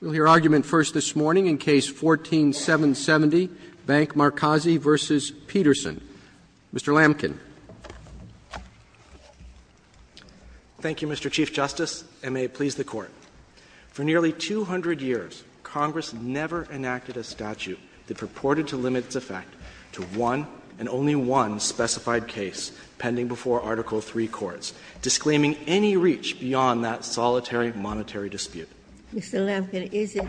We'll hear argument first this morning in Case 14-770, Bank Markazi v. Peterson. Mr. Lamkin. Thank you, Mr. Chief Justice, and may it please the Court. For nearly 200 years, Congress never enacted a statute that purported to limit its effect to one and only one specified case pending before Article III courts, disclaiming any reach beyond that solitary monetary dispute. Mr. Lamkin, is it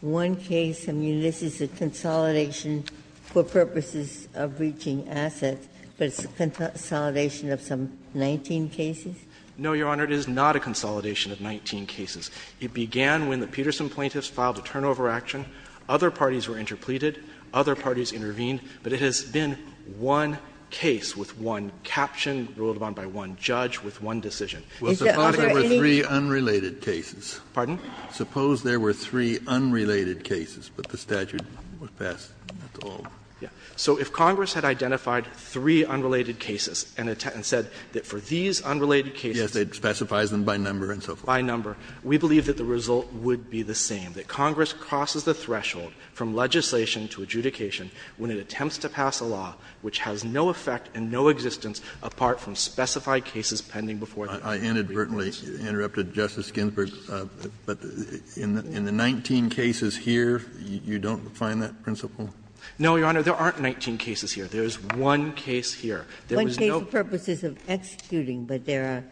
one case, I mean, this is a consolidation for purposes of reaching assets, but it's a consolidation of some 19 cases? No, Your Honor, it is not a consolidation of 19 cases. It began when the Peterson plaintiffs filed a turnover action. Other parties were interpleaded. Other parties intervened. But it has been one case with one caption, ruled upon by one judge, with one decision. Is there any other case? Well, the following were three unrelated cases. Pardon? Suppose there were three unrelated cases, but the statute was passed. That's all. Yes. So if Congress had identified three unrelated cases and said that for these unrelated cases Yes, it specifies them by number and so forth. by number, we believe that the result would be the same, that Congress crosses the threshold from legislation to adjudication when it attempts to pass a law which has no effect and no existence apart from specified cases pending before the Court of Appeals. I certainly interrupted Justice Ginsburg, but in the 19 cases here, you don't find that principle? No, Your Honor, there aren't 19 cases here. There is one case here. There was no purposes of executing, but there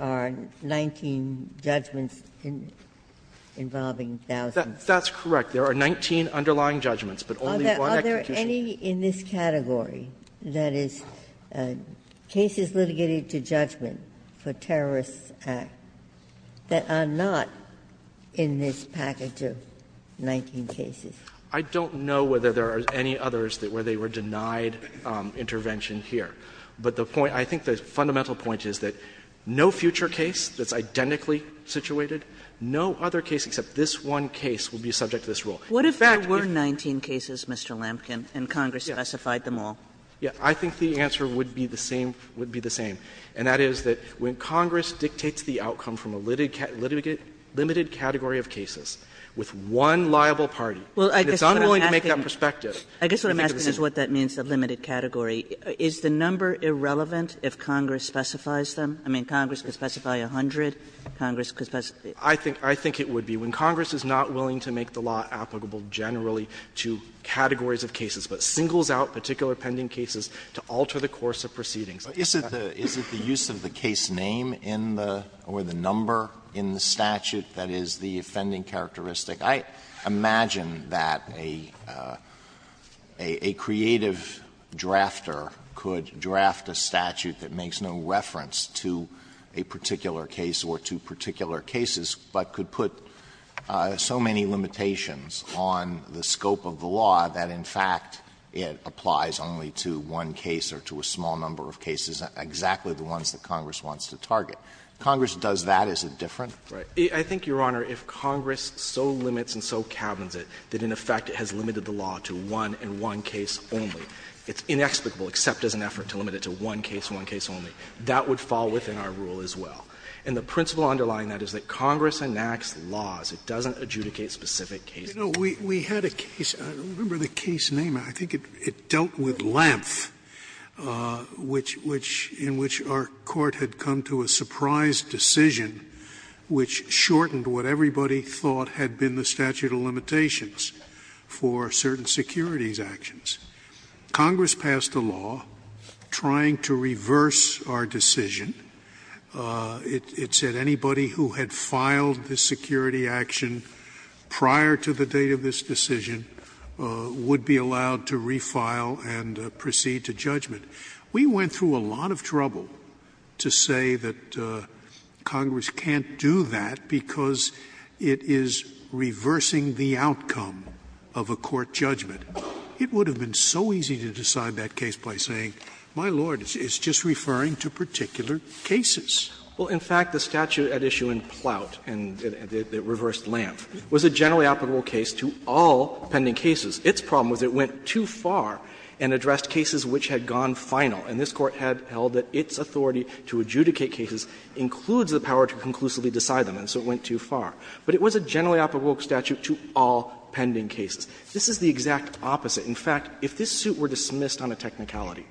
are 19 judgments involving thousands. That's correct. There are 19 underlying judgments, but only one execution. Are there any in this category, that is, cases litigated to judgment for Terrorist Act, that are not in this package of 19 cases? I don't know whether there are any others where they were denied intervention here. But the point, I think the fundamental point is that no future case that's identically situated, no other case except this one case will be subject to this rule. In fact, if there were 19 cases, Mr. Lampkin, and Congress specified them all. Yes, I think the answer would be the same, would be the same, and that is that when Congress dictates the outcome from a limited category of cases with one liable party, and it's unwilling to make that perspective, you think of the same. I guess what I'm asking is what that means, the limited category. Is the number irrelevant if Congress specifies them? I mean, Congress could specify 100, Congress could specify. I think it would be. And Congress is not willing to make the law applicable generally to categories of cases, but singles out particular pending cases to alter the course of proceedings. Alito, is it the use of the case name in the or the number in the statute that is the offending characteristic? I imagine that a creative drafter could draft a statute that makes no reference to a particular case or to particular cases, but could put so many limitations on the scope of the law that in fact it applies only to one case or to a small number of cases, exactly the ones that Congress wants to target. If Congress does that, is it different? Right. I think, Your Honor, if Congress so limits and so cabins it that in effect it has limited the law to one and one case only, it's inexplicable except as an effort to limit it to one case and one case only. That would fall within our rule as well. And the principle underlying that is that Congress enacts laws. It doesn't adjudicate specific cases. Scalia, we had a case, I don't remember the case name, I think it dealt with Lampf, which in which our Court had come to a surprise decision which shortened what everybody thought had been the statute of limitations for certain securities actions. Congress passed a law trying to reverse our decision. It said anybody who had filed the security action prior to the date of this decision would be allowed to refile and proceed to judgment. We went through a lot of trouble to say that Congress can't do that because it is reversing the outcome of a court judgment. It would have been so easy to decide that case by saying, my Lord, it's just referring to particular cases. Well, in fact, the statute at issue in Plout and the reversed Lampf was a generally applicable case to all pending cases. Its problem was it went too far and addressed cases which had gone final. And this Court had held that its authority to adjudicate cases includes the power to conclusively decide them, and so it went too far. But it was a generally applicable statute to all pending cases. This is the exact opposite. In fact, if this suit were dismissed on a technicality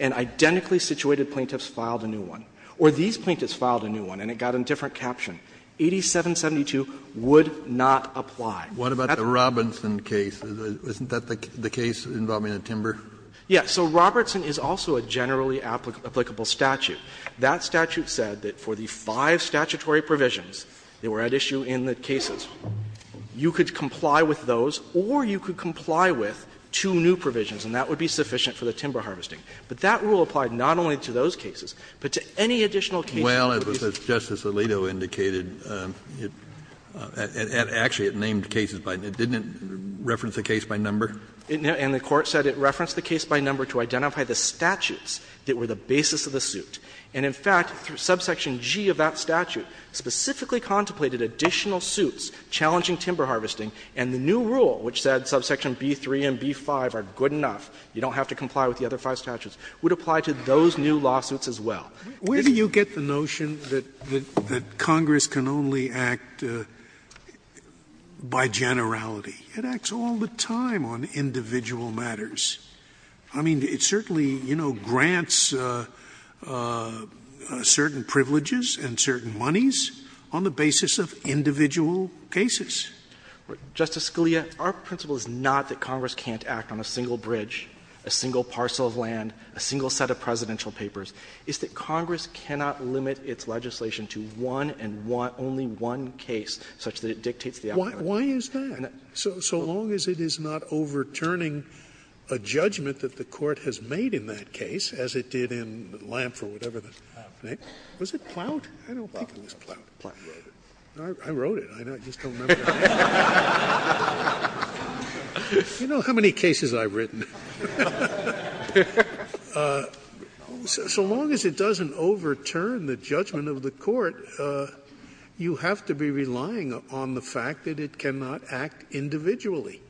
and identically situated plaintiffs filed a new one, or these plaintiffs filed a new one and it got a different caption, 8772 would not apply. Kennedy, that's the case involving the timber? Yeah. So Robertson is also a generally applicable statute. That statute said that for the five statutory provisions that were at issue in the Or you could comply with two new provisions, and that would be sufficient for the timber harvesting. But that rule applied not only to those cases, but to any additional cases. Well, as Justice Alito indicated, it actually named cases by number. It didn't reference the case by number? And the Court said it referenced the case by number to identify the statutes that were the basis of the suit. And in fact, subsection G of that statute specifically contemplated additional lawsuits challenging timber harvesting, and the new rule, which said subsection B-3 and B-5 are good enough, you don't have to comply with the other five statutes, would apply to those new lawsuits as well. Where do you get the notion that Congress can only act by generality? It acts all the time on individual matters. I mean, it certainly, you know, grants certain privileges and certain monies on the individual cases. Justice Scalia, our principle is not that Congress can't act on a single bridge, a single parcel of land, a single set of presidential papers. It's that Congress cannot limit its legislation to one and one — only one case such that it dictates the outcome. Why is that? So long as it is not overturning a judgment that the Court has made in that case, as it did in Lamp or whatever the name — was it Plout? I don't think it was Plout. I wrote it. I just don't remember the name. You know how many cases I've written? So long as it doesn't overturn the judgment of the Court, you have to be relying on the fact that it cannot act individually.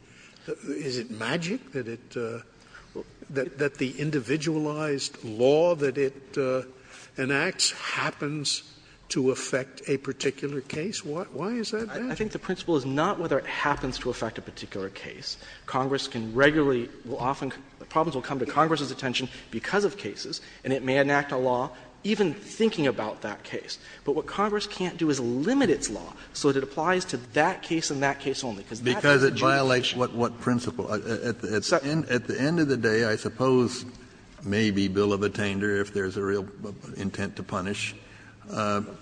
Is it magic that it — that the individualized law that it enacts happens to affect a particular case? Why is that magic? I think the principle is not whether it happens to affect a particular case. Congress can regularly — will often — problems will come to Congress's attention because of cases, and it may enact a law even thinking about that case. But what Congress can't do is limit its law so that it applies to that case and that case only, because that's a jurisdiction. Because it violates what principle? At the end of the day, I suppose maybe bill of attainder, if there's a real intent to punish,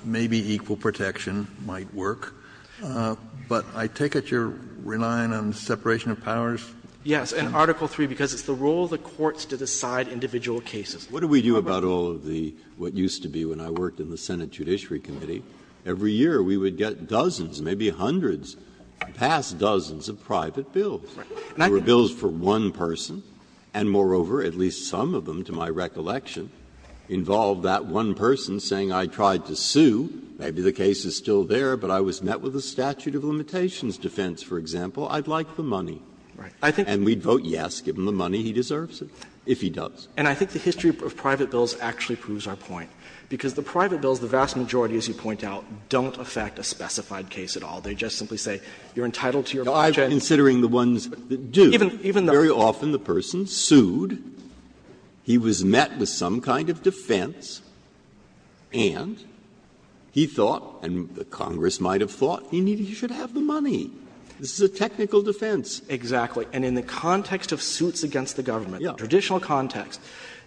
maybe equal protection might work. But I take it you're relying on the separation of powers? Yes, and Article III, because it's the role of the courts to decide individual cases. What do we do about all of the — what used to be when I worked in the Senate Judiciary Committee, every year we would get dozens, maybe hundreds, past dozens of private bills. Right. And I think that's true. There were bills for one person, and moreover, at least some of them, to my recollection, involved that one person saying, I tried to sue, maybe the case is still there, but I was met with a statute of limitations defense, for example, I'd like the money. And we'd vote yes, give him the money, he deserves it, if he does. And I think the history of private bills actually proves our point, because the private bills, the vast majority, as you point out, don't affect a specified case at all. They just simply say, you're entitled to your project. Now, I'm considering the ones that do. Very often, the person sued, he was met with some kind of defense, and he thought — and the Congress might have thought — he should have the money. This is a technical defense. Exactly. And in the context of suits against the government, the traditional context,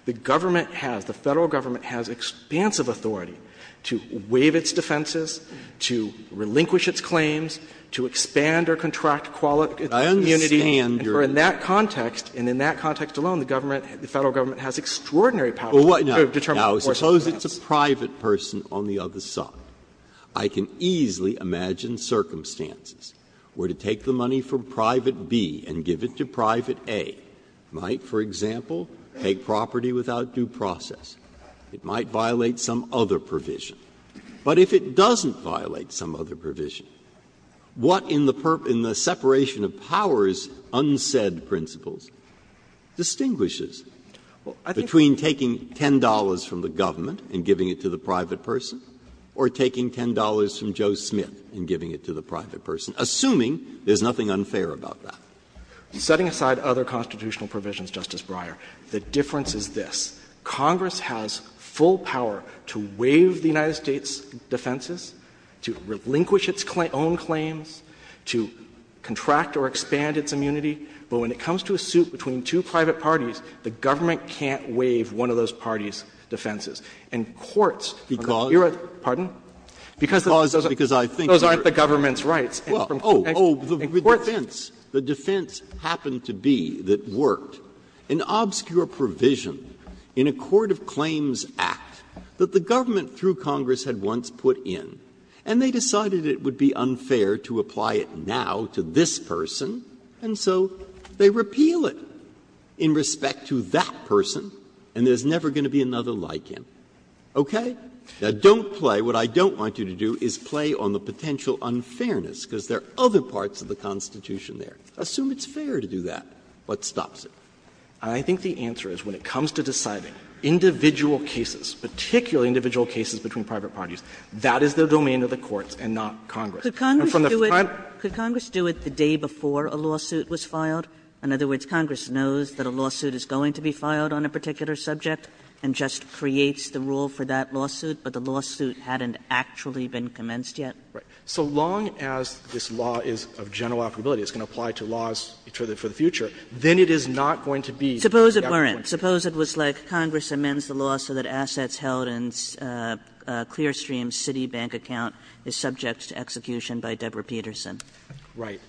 the government has, the Federal government has expansive authority to waive its defenses, to relinquish its claims, to expand or contract its community. And for in that context, and in that context alone, the government, the Federal government has extraordinary power to determine the course of defense. Now, suppose it's a private person on the other side. I can easily imagine circumstances where to take the money from private B and give it to private A might, for example, take property without due process. It might violate some other provision. But if it doesn't violate some other provision, what in the separation of powers between those unsaid principles distinguishes between taking $10 from the government and giving it to the private person or taking $10 from Joe Smith and giving it to the private person, assuming there's nothing unfair about that? Setting aside other constitutional provisions, Justice Breyer, the difference is this. Congress has full power to waive the United States' defenses, to relinquish its own claims, to contract or expand its immunity. But when it comes to a suit between two private parties, the government can't waive one of those parties' defenses. And courts are the era of the United States' defense. Breyer, pardon? Because those aren't the government's rights. Breyer, because I think you're right. Oh, oh, the defense, the defense happened to be, that worked, an obscure provision in a Court of Claims Act that the government through Congress had once put in. And they decided it would be unfair to apply it now to this person, and so they repeal it in respect to that person, and there's never going to be another like him. Okay? Now, don't play. What I don't want you to do is play on the potential unfairness, because there are other parts of the Constitution there. Assume it's fair to do that. What stops it? I think the answer is when it comes to deciding individual cases, particularly individual cases between private parties. That is the domain of the courts and not Congress. And from the final point of view, it's a matter of the courts. Kagan. Kagan. Could Congress do it the day before a lawsuit was filed? In other words, Congress knows that a lawsuit is going to be filed on a particular subject and just creates the rule for that lawsuit, but the lawsuit hadn't actually been commenced yet? Right. So long as this law is of general applicability, it's going to apply to laws for the future, then it is not going to be. Suppose it weren't. Kagan. Suppose that assets held in Clearstream's Citibank account is subject to execution by Deborah Peterson. Right.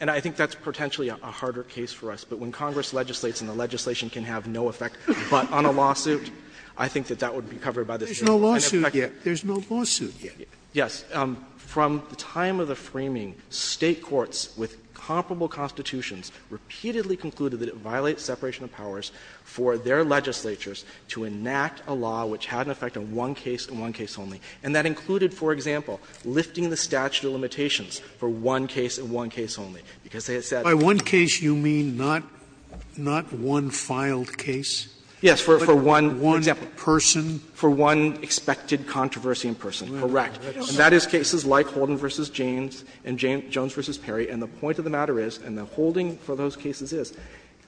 And I think that's potentially a harder case for us, but when Congress legislates and the legislation can have no effect but on a lawsuit, I think that that would be covered by this. There's no lawsuit yet. There's no lawsuit yet. Yes. From the time of the framing, State courts with comparable Constitutions repeatedly concluded that it violates separation of powers for their legislatures to enact a law which had an effect on one case and one case only, and that included, for example, lifting the statute of limitations for one case and one case only, because they had said. By one case, you mean not one filed case? Yes, for one example. One person? For one expected controversy in person, correct. And that is cases like Holden v. James and Jones v. Perry. And the point of the matter is, and the holding for those cases is,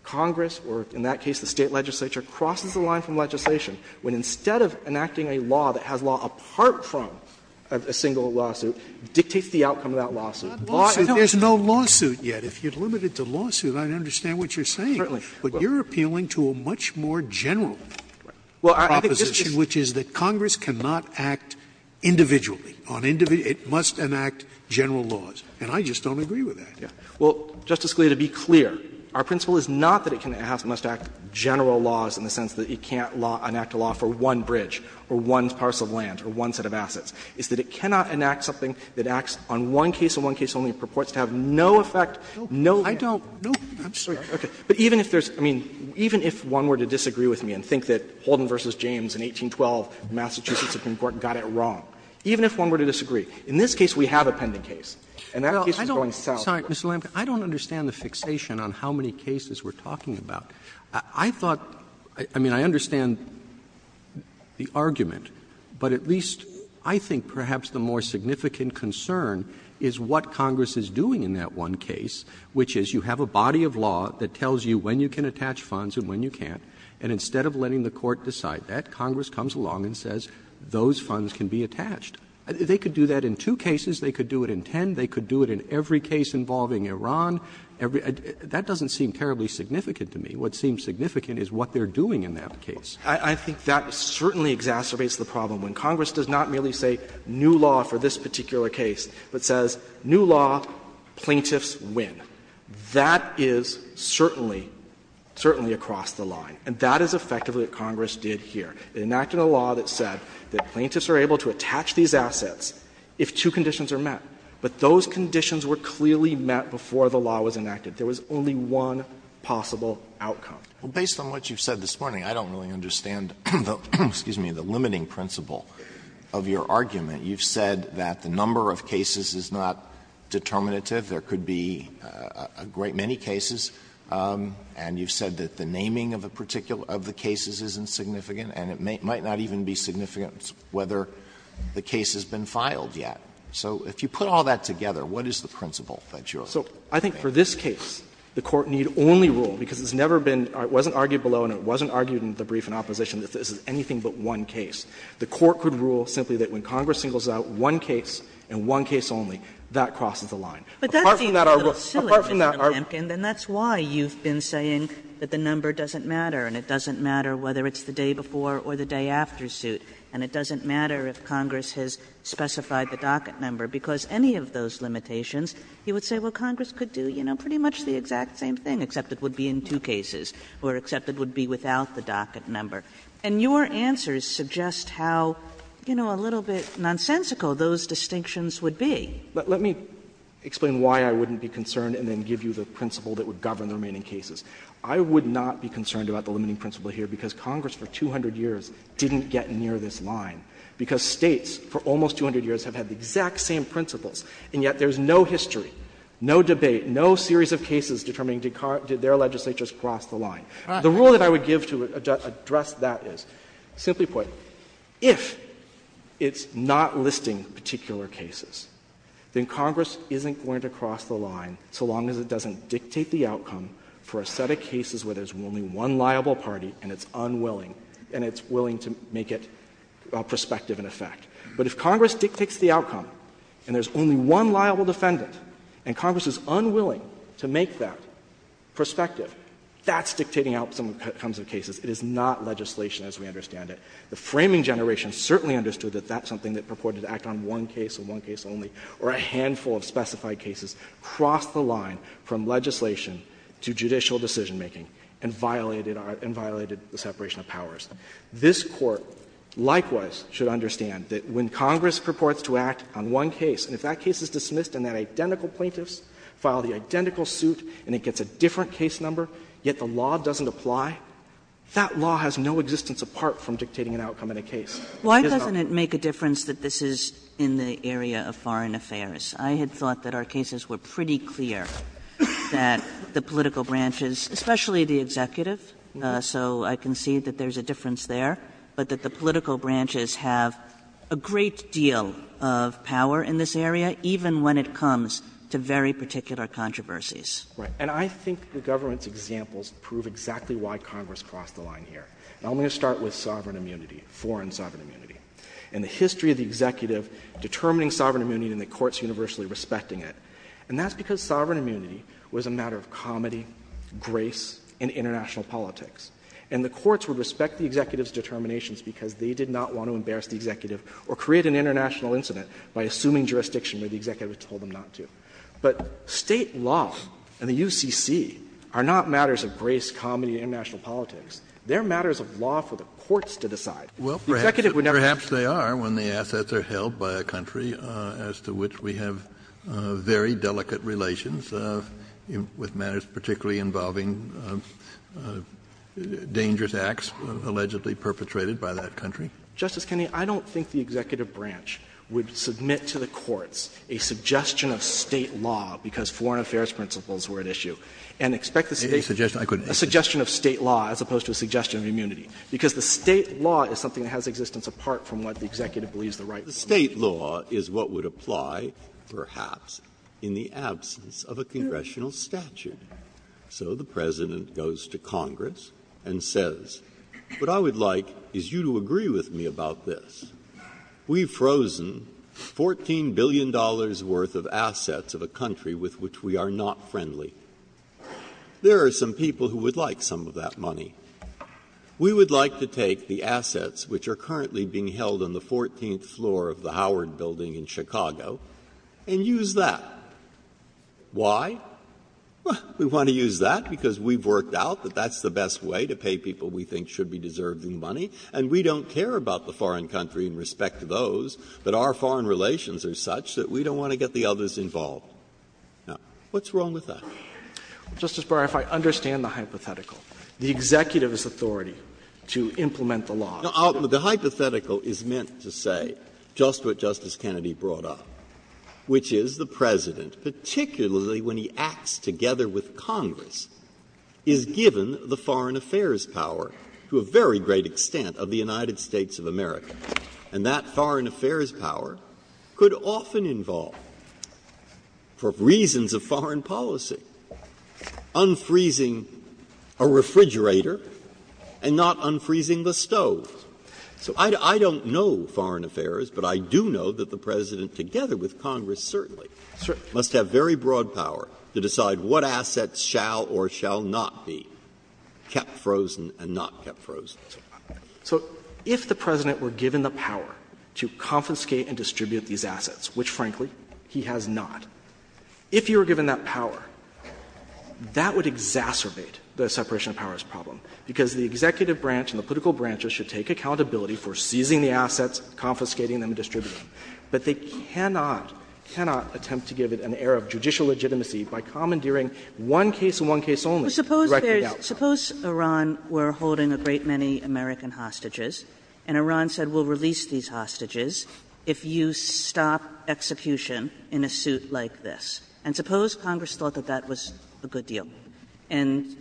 Congress or in that case the State legislature crosses the line from legislation when instead of enacting a law that has law apart from a single lawsuit, dictates the outcome of that lawsuit. There's no lawsuit yet. If you'd limit it to lawsuit, I'd understand what you're saying. But you're appealing to a much more general proposition, which is that Congress cannot act individually. It must enact general laws. And I just don't agree with that. Well, Justice Scalia, to be clear, our principle is not that it must enact general laws in the sense that it can't enact a law for one bridge or one parcel of land or one set of assets. It's that it cannot enact something that acts on one case and one case only and purports to have no effect, no effect. I'm sorry. But even if there's, I mean, even if one were to disagree with me and think that Holden v. James in 1812 Massachusetts Supreme Court got it wrong, even if one were to disagree, in this case we have a pending case. And that case was going south. Roberts. Roberts. Roberts. I don't understand the fixation on how many cases we're talking about. I thought, I mean, I understand the argument, but at least I think perhaps the more significant concern is what Congress is doing in that one case, which is you have a body of law that tells you when you can attach funds and when you can't, and instead of letting the Court decide that, Congress comes along and says those funds can be attached and they could do it in every case involving Iran. That doesn't seem terribly significant to me. What seems significant is what they're doing in that case. I think that certainly exacerbates the problem when Congress does not merely say new law for this particular case, but says new law, plaintiffs win. That is certainly, certainly across the line. And that is effectively what Congress did here. It enacted a law that said that plaintiffs are able to attach these assets if two conditions are met. But those conditions were clearly met before the law was enacted. There was only one possible outcome. Alito, based on what you've said this morning, I don't really understand the limiting principle of your argument. You've said that the number of cases is not determinative. There could be a great many cases. And you've said that the naming of the cases isn't significant, and it might not even be significant whether the case has been filed yet. So if you put all that together, what is the principle that you're making? So I think for this case, the Court need only rule, because it's never been — it wasn't argued below and it wasn't argued in the brief in opposition that this is anything but one case. The Court could rule simply that when Congress singles out one case and one case only, that crosses the line. Apart from that, our rule — But that seems a little silly, Mr. Lemkin, and that's why you've been saying that the number doesn't matter, and it doesn't matter whether it's the day before or the day after suit. And it doesn't matter if Congress has specified the docket number, because any of those limitations, you would say, well, Congress could do, you know, pretty much the exact same thing, except it would be in two cases, or except it would be without the docket number. And your answers suggest how, you know, a little bit nonsensical those distinctions would be. Let me explain why I wouldn't be concerned and then give you the principle that would govern the remaining cases. I would not be concerned about the limiting principle here, because Congress for 200 years didn't get near this line, because States for almost 200 years have had the exact same principles, and yet there's no history, no debate, no series of cases determining did their legislatures cross the line. The rule that I would give to address that is, simply put, if it's not listing particular cases, then Congress isn't going to cross the line so long as it doesn't and it's unwilling, and it's willing to make it prospective in effect. But if Congress dictates the outcome and there's only one liable defendant and Congress is unwilling to make that prospective, that's dictating how someone comes to cases. It is not legislation as we understand it. The framing generation certainly understood that that's something that purported to act on one case or one case only, or a handful of specified cases cross the line from legislation to judicial decision-making and violated the separation of powers. This Court, likewise, should understand that when Congress purports to act on one case, and if that case is dismissed and then identical plaintiffs file the identical suit and it gets a different case number, yet the law doesn't apply, that law has no existence apart from dictating an outcome in a case. It is not law. Kagan. Kagan. I thought it made a difference that this was in the area of foreign affairs. I had thought that our cases were pretty clear that the political branches, especially the Executive, so I concede that there is a difference there, but that the political branches have a great deal of power in this area, even when it comes to very particular controversies. Right. And I think the government's examples prove exactly why Congress crossed the line here. Now, I'm going to start with sovereign immunity, foreign sovereign immunity, and the history of the Executive determining sovereign immunity and the courts universally respecting it. And that's because sovereign immunity was a matter of comedy, grace, and international politics. And the courts would respect the Executive's determinations because they did not want to embarrass the Executive or create an international incident by assuming jurisdiction where the Executive had told them not to. But State law and the UCC are not matters of grace, comedy, and international politics. They are matters of law for the courts to decide. Kennedy, perhaps they are when the assets are held by a country as to which we have very delicate relations with matters particularly involving dangerous acts allegedly perpetrated by that country. Justice Kennedy, I don't think the Executive branch would submit to the courts a suggestion of State law because foreign affairs principles were at issue and expect a suggestion of State law as opposed to a suggestion of immunity, because the State law is something that has existence apart from what the Executive believes the right to do. Breyer, State law is what would apply perhaps in the absence of a congressional statute. So the President goes to Congress and says, what I would like is you to agree with me about this. We've frozen $14 billion worth of assets of a country with which we are not friendly. There are some people who would like some of that money. We would like to take the assets which are currently being held on the 14th floor of the Howard Building in Chicago and use that. Why? Well, we want to use that because we've worked out that that's the best way to pay people we think should be deserving money, and we don't care about the foreign country in respect to those, but our foreign relations are such that we don't want to get the others involved. Now, what's wrong with that? Justice Breyer, if I understand the hypothetical, the Executive's authority to implement the law. The hypothetical is meant to say just what Justice Kennedy brought up, which is the President, particularly when he acts together with Congress, is given the foreign affairs power to a very great extent of the United States of America. And that foreign affairs power could often involve, for reasons of foreign policy, unfreezing a refrigerator and not unfreezing the stove. So I don't know foreign affairs, but I do know that the President, together with Congress certainly, must have very broad power to decide what assets shall or shall not be kept frozen and not kept frozen. So if the President were given the power to confiscate and distribute these assets, which, frankly, he has not, if he were given that power, that would exacerbate the separation of powers problem, because the Executive branch and the political branches should take accountability for seizing the assets, confiscating them, distributing them, but they cannot, cannot attempt to give it an air of judicial legitimacy by commandeering one case and one case only. So suppose there's – suppose Iran were holding a great many American hostages, and Iran said we'll release these hostages if you stop execution in a suit like this. And suppose Congress thought that that was a good deal and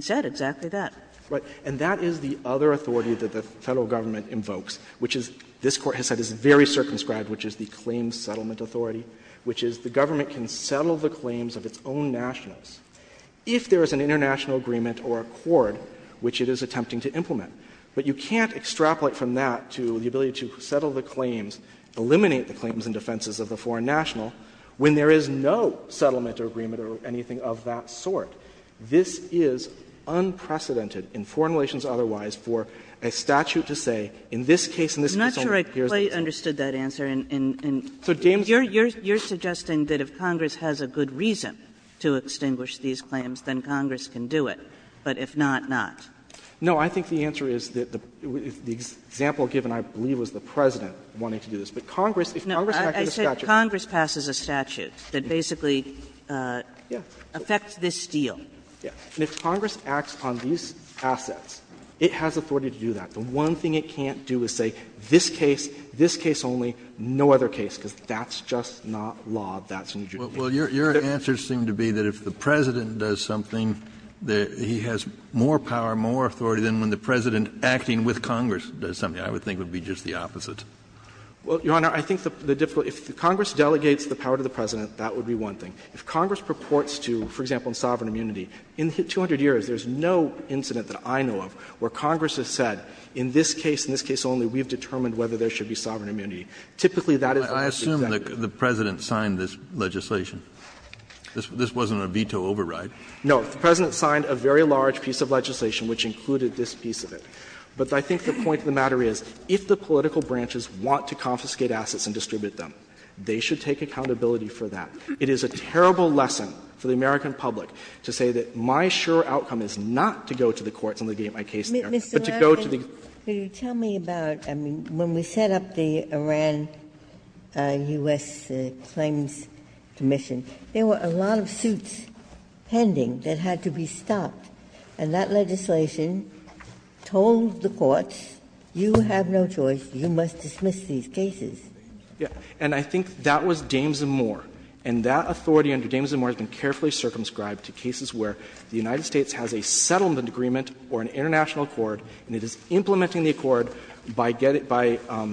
said exactly that. Right. And that is the other authority that the Federal Government invokes, which is, this Court has said, is very circumscribed, which is the claims settlement authority, which is the government can settle the claims of its own nationals if there is an international agreement or accord which it is attempting to implement. But you can't extrapolate from that to the ability to settle the claims, eliminate the claims and defenses of the foreign national, when there is no settlement or agreement or anything of that sort. This is unprecedented in foreign relations otherwise for a statute to say, in this case, in this case only, here's the case. And I don't think I understood that answer. And you're suggesting that if Congress has a good reason to extinguish these claims, then Congress can do it, but if not, not. No. I think the answer is that the example given, I believe, was the President wanting to do this. But Congress, if Congress passes a statute that basically affects this deal. And if Congress acts on these assets, it has authority to do that. The one thing it can't do is say, this case, this case only, no other case, because that's just not law. That's in the judicature. Kennedy. Well, your answers seem to be that if the President does something, that he has more power, more authority than when the President acting with Congress does something. I would think it would be just the opposite. Well, Your Honor, I think the difficult — if Congress delegates the power to the President, that would be one thing. If Congress purports to, for example, in sovereign immunity, in 200 years, there's no incident that I know of where Congress has said, in this case, in this case only, we've determined whether there should be sovereign immunity. Typically, that is the case. Kennedy. I assume the President signed this legislation. This wasn't a veto override. No. The President signed a very large piece of legislation which included this piece of it. But I think the point of the matter is, if the political branches want to confiscate assets and distribute them, they should take accountability for that. It is a terrible lesson for the American public to say that my sure outcome is not to go to the courts and to get my case there, but to go to the courts and get my case there. Ginsburg. Mr. Lamken, could you tell me about, I mean, when we set up the Iran-U.S. Claims Commission, there were a lot of suits pending that had to be stopped, and that legislation told the courts, you have no choice, you must dismiss these cases. And I think that was Dames and Moore, and that authority under Dames and Moore has been carefully circumscribed to cases where the United States has a settlement agreement or an international accord, and it is implementing the accord by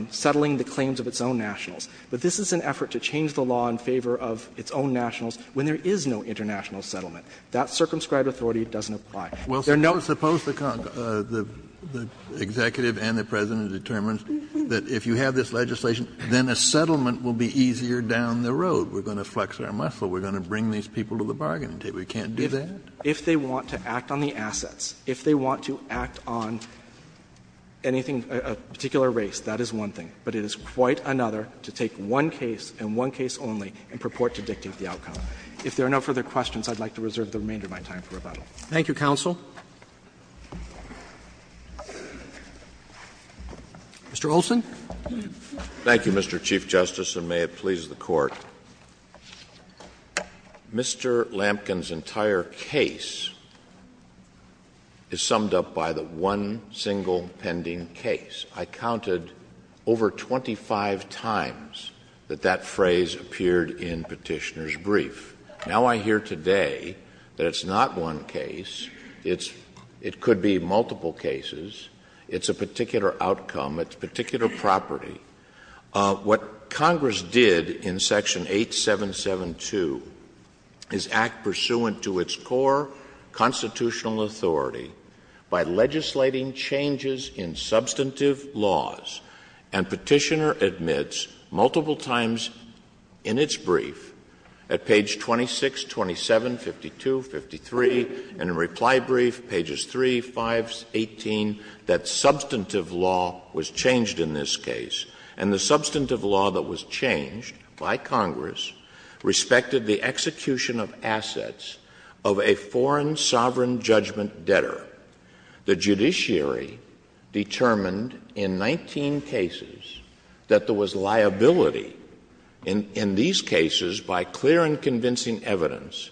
settling the claims of its own nationals. But this is an effort to change the law in favor of its own nationals when there is no international settlement. That circumscribed authority doesn't apply. Kennedy. Kennedy, suppose the executive and the President determines that if you have this legislation, then a settlement will be easier down the road. We're going to flex our muscle. We're going to bring these people to the bargaining table. You can't do that? Lamken, If they want to act on the assets, if they want to act on anything, a particular race, that is one thing, but it is quite another to take one case and one case only and purport to dictate the outcome. If there are no further questions, I would like to reserve the remainder of my time for rebuttal. Roberts. Thank you, counsel. Mr. Olson. Olson. Thank you, Mr. Chief Justice, and may it please the Court. Mr. Lamken's entire case is summed up by the one single pending case. I counted over 25 times that that phrase appeared in Petitioner's brief. Now I hear today that it's not one case. It's — it could be multiple cases. It's a particular outcome. It's particular property. What Congress did in Section 8772 is act pursuant to its core constitutional authority by legislating changes in substantive laws, and Petitioner admits multiple times in its brief, at page 26, 27, 52, 53, and in reply brief, pages 3, 5, 18, that substantive law was changed in this case. And the substantive law that was changed by Congress respected the execution of assets of a foreign sovereign judgment debtor. The judiciary determined in 19 cases that there was liability in these cases by clear and convincing evidence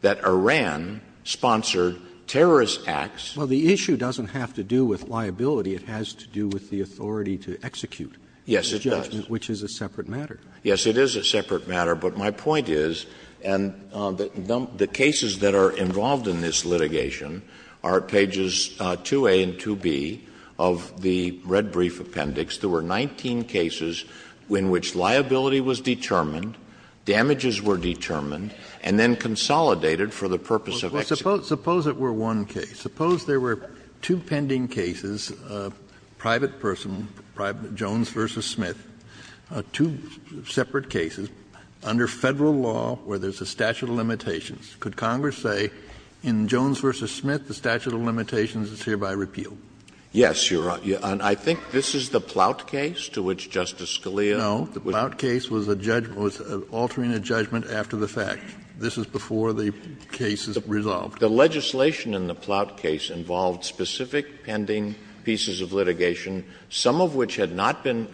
that Iran sponsored terrorist acts. Roberts. Well, the issue doesn't have to do with liability. It has to do with the authority to execute judgment. Yes, it does. Which is a separate matter. Yes, it is a separate matter. But my point is, and the cases that are involved in this litigation are pages 2A and 2B of the red brief appendix. There were 19 cases in which liability was determined, damages were determined, and then consolidated for the purpose of execution. Suppose it were one case. Suppose there were two pending cases, private person, Jones v. Smith, two separate cases, under Federal law where there's a statute of limitations. Could Congress say in Jones v. Smith the statute of limitations is hereby repealed? Yes, Your Honor. And I think this is the Ploutt case to which Justice Scalia was. No, the Ploutt case was a judgment, was altering a judgment after the fact. This is before the case is resolved. The legislation in the Ploutt case involved specific pending pieces of litigation, some of which had not been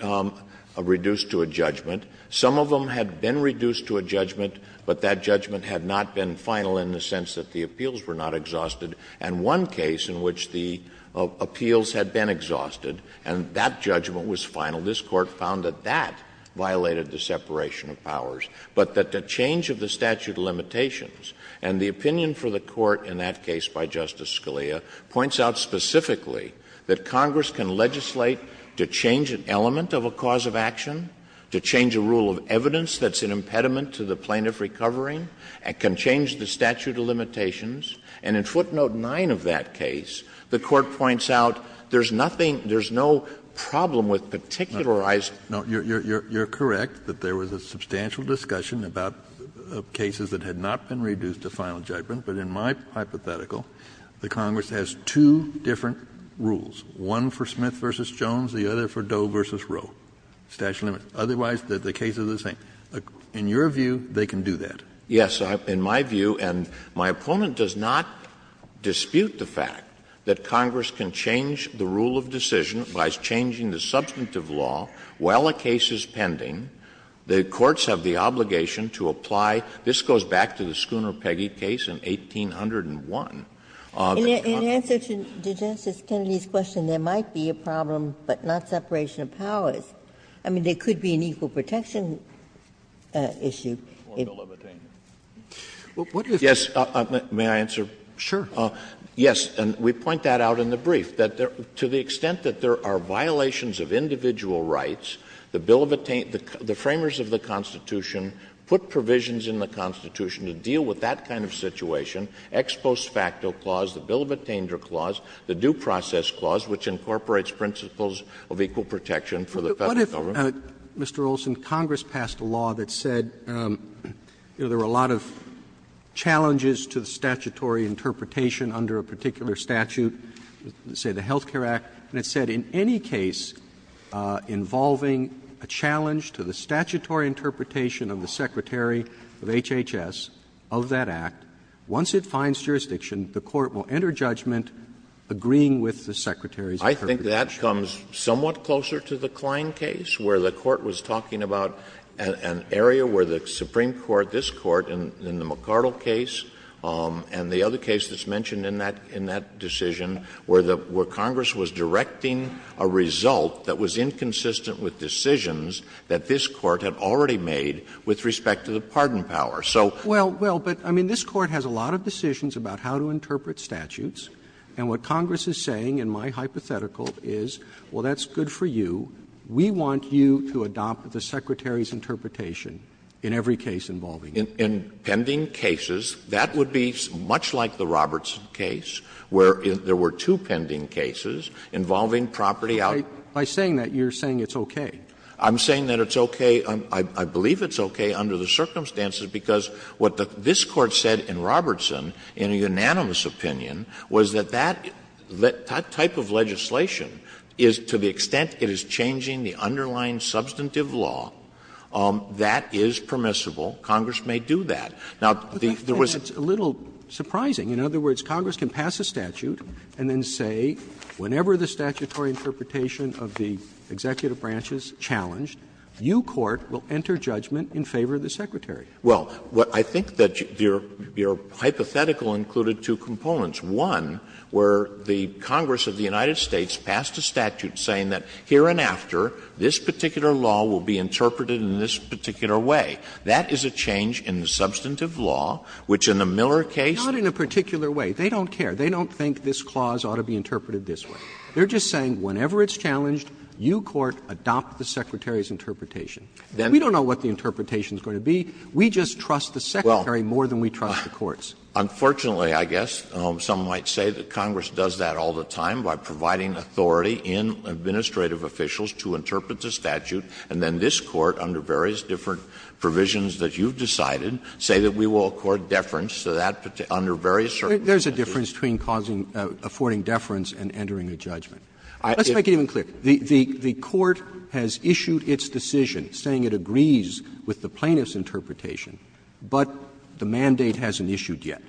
reduced to a judgment. Some of them had been reduced to a judgment, but that judgment had not been final in the sense that the appeals were not exhausted. And one case in which the appeals had been exhausted and that judgment was final, this Court found that that violated the separation of powers. But that the change of the statute of limitations, and the opinion for the Court in that case by Justice Scalia, points out specifically that Congress can legislate to change an element of a cause of action, to change a rule of evidence that's an impediment to the plaintiff recovering, and can change the statute of limitations. And in footnote 9 of that case, the Court points out there's nothing, there's no problem with particularizing. No, you're correct that there was a substantial discussion about cases that had not been reduced to final judgment, but in my hypothetical, the Congress has two different rules, one for Smith v. Jones, the other for Doe v. Rowe, statute of limitations. Otherwise, the cases are the same. In your view, they can do that. Yes, in my view, and my opponent does not dispute the fact that Congress can change the rule of decision by changing the substantive law while a case is pending. The courts have the obligation to apply. This goes back to the Schooner-Peggy case in 1801. Ginsburg. And in answer to Justice Kennedy's question, there might be a problem, but not separation of powers. I mean, there could be an equal protection issue. Yes, may I answer? Sure. Yes, and we point that out in the brief, that to the extent that there are violations of individual rights, the framers of the Constitution put provisions in the Constitution to deal with that kind of situation, ex post facto clause, the bill of attainment clause, the due process clause, which incorporates principles of equal protection for the Federal Government. But what if, Mr. Olson, Congress passed a law that said, you know, there were a lot of challenges to the statutory interpretation under a particular statute, say the Health Care Act, and it said in any case involving a challenge to the statutory interpretation of the Secretary of HHS of that act, once it finds jurisdiction, the court will enter judgment agreeing with the Secretary's interpretation. I think that comes somewhat closer to the Klein case, where the Court was talking about an area where the Supreme Court, this Court in the McArdle case, and the other case that's mentioned in that decision, where Congress was directing a result that was inconsistent with decisions that this Court had already made with respect to the pardon power. So. Robertson, Well, well, but I mean, this Court has a lot of decisions about how to interpret statutes, and what Congress is saying, in my hypothetical, is, well, that's good for you. We want you to adopt the Secretary's interpretation in every case involving him. Olson, In pending cases, that would be much like the Robertson case, where there were two pending cases involving property out. Roberts, by saying that, you're saying it's okay. Olson, I'm saying that it's okay. I believe it's okay under the circumstances, because what this Court said in Robertson, in a unanimous opinion, was that that type of legislation is, to the extent it is changing the underlying substantive law, that is permissible. Congress may do that. Now, there was. Roberts, I think that's a little surprising. In other words, Congress can pass a statute and then say, whenever the statutory interpretation of the executive branch is challenged, you, Court, will enter judgment in favor of the Secretary. Well, what I think that your hypothetical included two components. One, where the Congress of the United States passed a statute saying that here and after, this particular law will be interpreted in this particular way. That is a change in the substantive law, which in the Miller case. Not in a particular way. They don't care. They don't think this clause ought to be interpreted this way. They're just saying, whenever it's challenged, you, Court, adopt the Secretary's interpretation. We don't know what the interpretation is going to be. We just trust the Secretary more than we trust the courts. Unfortunately, I guess, some might say that Congress does that all the time by providing authority in administrative officials to interpret the statute, and then this Court, under various different provisions that you've decided, say that we will accord deference to that under various circumstances. Roberts There's a difference between causing or affording deference and entering a judgment. Let's make it even clearer. The Court has issued its decision saying it agrees with the plaintiff's interpretation, but the mandate hasn't issued yet.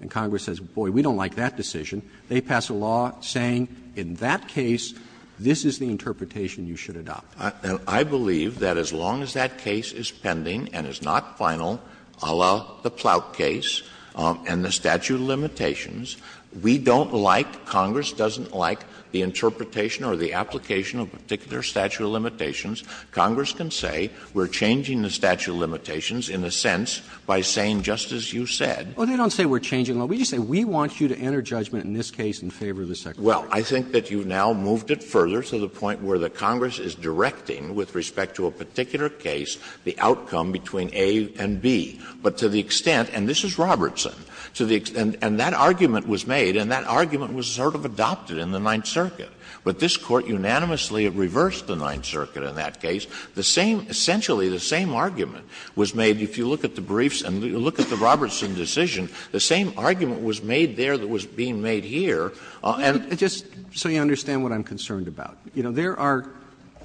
And Congress says, boy, we don't like that decision. They pass a law saying in that case, this is the interpretation you should adopt. I believe that as long as that case is pending and is not final, a la the Plout case and the statute of limitations, we don't like, Congress doesn't like the interpretation or the application of particular statute of limitations, Congress can say we're changing the statute of limitations in a sense by saying, just as you said. Roberts Well, they don't say we're changing them. We just say we want you to enter judgment in this case in favor of the Secretary. Roberts Well, I think that you now moved it further to the point where the Congress is directing with respect to a particular case the outcome between A and B, but to the extent and this is Robertson, to the extent, and that argument was made and that argument was sort of adopted in the Ninth Circuit. But this Court unanimously reversed the Ninth Circuit in that case. The same, essentially the same argument was made if you look at the briefs and you look at the Robertson decision, the same argument was made there that was being made here. And Roberts Just so you understand what I'm concerned about. You know, there are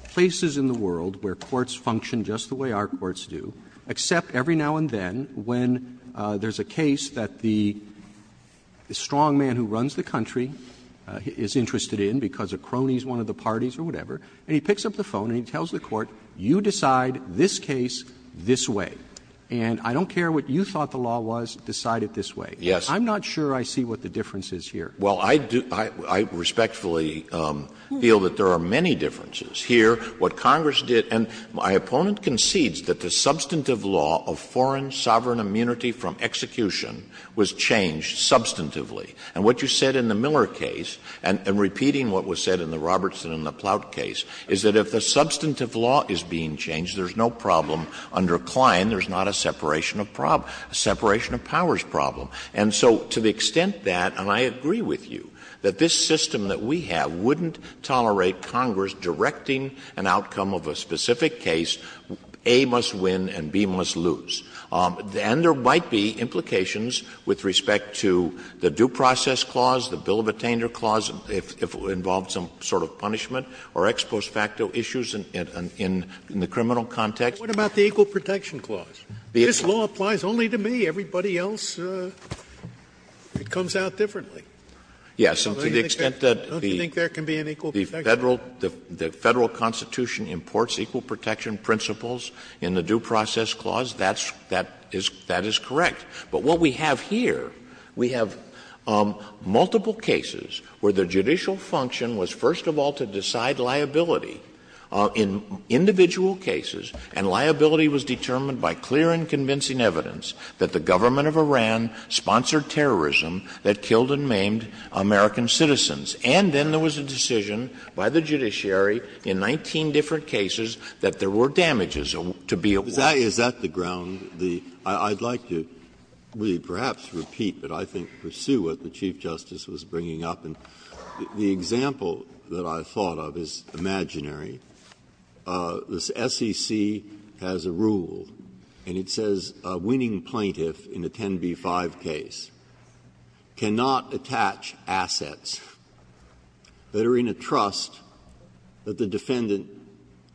places in the world where courts function just the way our courts do, except every now and then when there's a case that the strongman who runs the country is interested in because a crony is one of the parties or whatever, and he picks up the phone and he tells the court, you decide this case this way, and I don't care what you thought the law was, decide it this way. I'm not sure I see what the difference is here. Well, I respectfully feel that there are many differences. Here, what Congress did, and my opponent concedes that the substantive law of foreign sovereign immunity from execution was changed substantively. And what you said in the Miller case, and repeating what was said in the Robertson and the Ploutt case, is that if the substantive law is being changed, there's no problem under Klein, there's not a separation of powers problem. And so to the extent that, and I agree with you, that this system that we have wouldn't tolerate Congress directing an outcome of a specific case, A must win and B must lose. And there might be implications with respect to the due process clause, the bill of attainder clause, if it involved some sort of punishment, or ex post facto issues in the criminal context. Scalia. What about the equal protection clause? This law applies only to me. Everybody else, it comes out differently. Yes. And to the extent that the Federal Constitution imports equal protection principles in the due process clause, that is correct. But what we have here, we have multiple cases where the judicial function was first of all to decide liability in individual cases, and liability was determined by clear and convincing evidence that the government of Iran sponsored terrorism that killed and maimed American citizens. And then there was a decision by the judiciary in 19 different cases that there were damages to be awarded. Breyer. Is that the ground, the – I'd like to perhaps repeat, but I think pursue what the Chief Justice was bringing up. And the example that I thought of is imaginary. The SEC has a rule, and it says a winning plaintiff in a 10b-5 case cannot attach assets that are in a trust that the defendant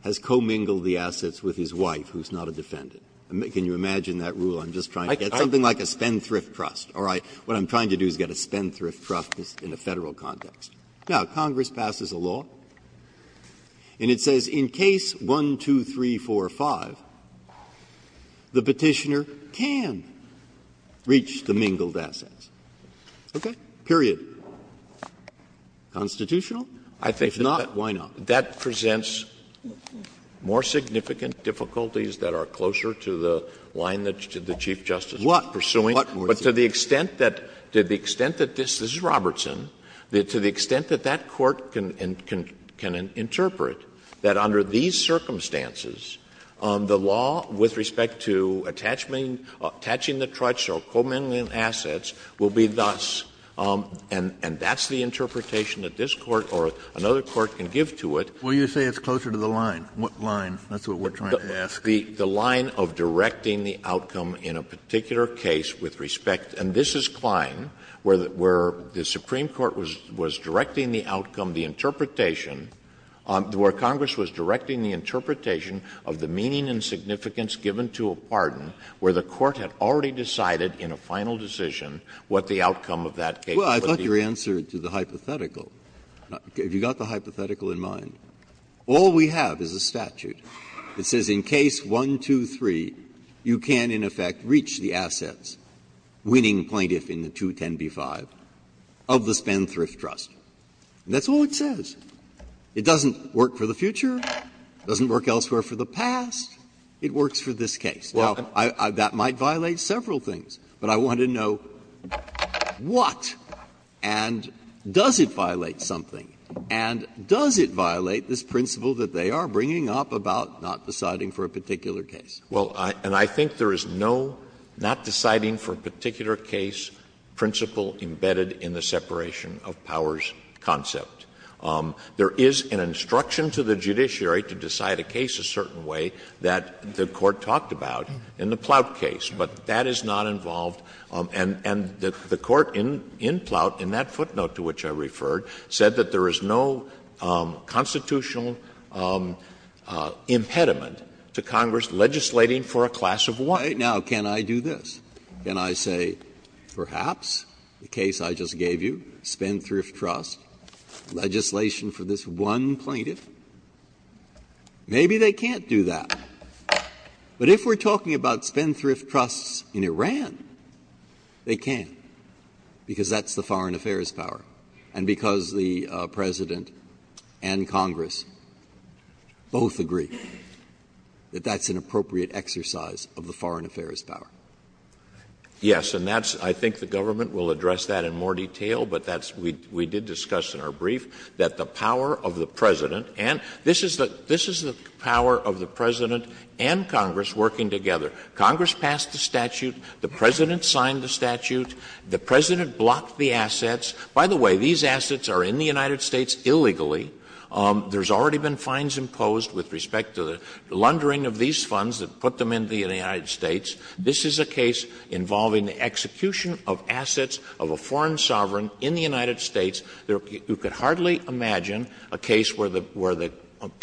has commingled the assets with his wife, who is not a defendant. Can you imagine that rule? I'm just trying to get something like a spendthrift trust. All right. What I'm trying to do is get a spendthrift trust in a Federal context. Now, Congress passes a law, and it says in case 1, 2, 3, 4, 5, the Petitioner can reach the mingled assets. Okay? Period. Constitutional? If not, why not? Scalia. I think that that presents more significant difficulties that are closer to the line that the Chief Justice was pursuing. Breyer. To the extent that this is Robertson, to the extent that that court can interpret that under these circumstances, the law with respect to attaching the trust or commingling assets will be thus, and that's the interpretation that this Court or another court can give to it. Well, you say it's closer to the line. What line? That's what we're trying to ask. The line of directing the outcome in a particular case with respect, and this is Kline, where the Supreme Court was directing the outcome, the interpretation, where Congress was directing the interpretation of the meaning and significance given to a pardon where the court had already decided in a final decision what the outcome of that case would be. Well, I thought your answer to the hypothetical, if you got the hypothetical in mind, all we have is a statute. It says in case 1, 2, 3, you can, in effect, reach the assets, winning plaintiff in the 210b-5, of the Spendthrift Trust. And that's all it says. It doesn't work for the future, it doesn't work elsewhere for the past, it works for this case. Now, that might violate several things, but I want to know what, and does it violate something, and does it violate this principle that they are bringing up about the not deciding for a particular case? Well, and I think there is no not deciding for a particular case principle embedded in the separation of powers concept. There is an instruction to the judiciary to decide a case a certain way that the court talked about in the Ploutt case, but that is not involved. And the court in Ploutt, in that footnote to which I referred, said that there is no constitutional impediment to Congress legislating for a class of one. Breyer. Now, can I do this? Can I say, perhaps, the case I just gave you, Spendthrift Trust, legislation for this one plaintiff, maybe they can't do that. But if we are talking about Spendthrift Trusts in Iran, they can, because that's the foreign affairs power, and because the President and Congress both agree that that's an appropriate exercise of the foreign affairs power. Yes, and that's, I think the government will address that in more detail, but that's we did discuss in our brief, that the power of the President, and this is the power of the President and Congress working together. Congress passed the statute, the President signed the statute, the President blocked the assets. By the way, these assets are in the United States illegally. There has already been fines imposed with respect to the laundering of these funds that put them into the United States. This is a case involving the execution of assets of a foreign sovereign in the United States. You could hardly imagine a case where the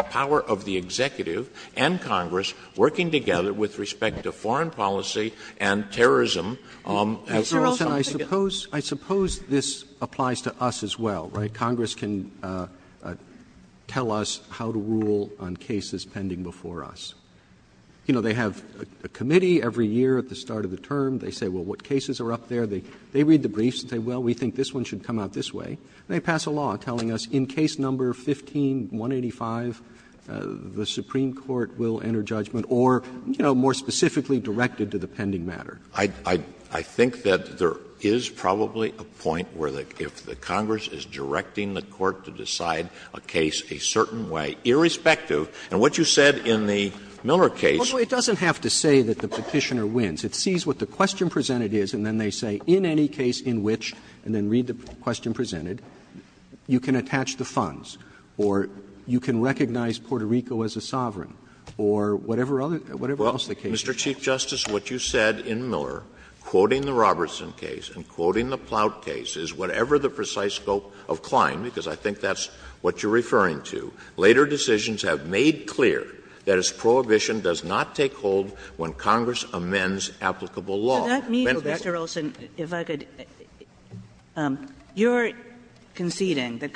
power of the Executive and Congress working together with respect to foreign policy and terrorism. As you all said, I suppose this applies to us as well, right? Congress can tell us how to rule on cases pending before us. You know, they have a committee every year at the start of the term. They say, well, what cases are up there? They read the briefs and say, well, we think this one should come out this way. And they pass a law telling us in case number 15-185, the Supreme Court will enter judgment or, you know, more specifically directed to the pending matter. I think that there is probably a point where if the Congress is directing the Court to decide a case a certain way, irrespective, and what you said in the Miller case It doesn't have to say that the Petitioner wins. It sees what the question presented is and then they say, in any case in which, and then read the question presented, you can attach the funds or you can recognize So I think, Mr. Chief Justice, what you said in Miller, quoting the Robertson case and quoting the Ploutt case, is whatever the precise scope of Klein, because I think that's what you're referring to, later decisions have made clear that its prohibition does not take hold when Congress amends applicable law. Kagan. Kagan. Kagan. Kagan. Kagan. Kagan. Kagan. Kagan. Kagan. Kagan. Kagan. Kagan. Kagan.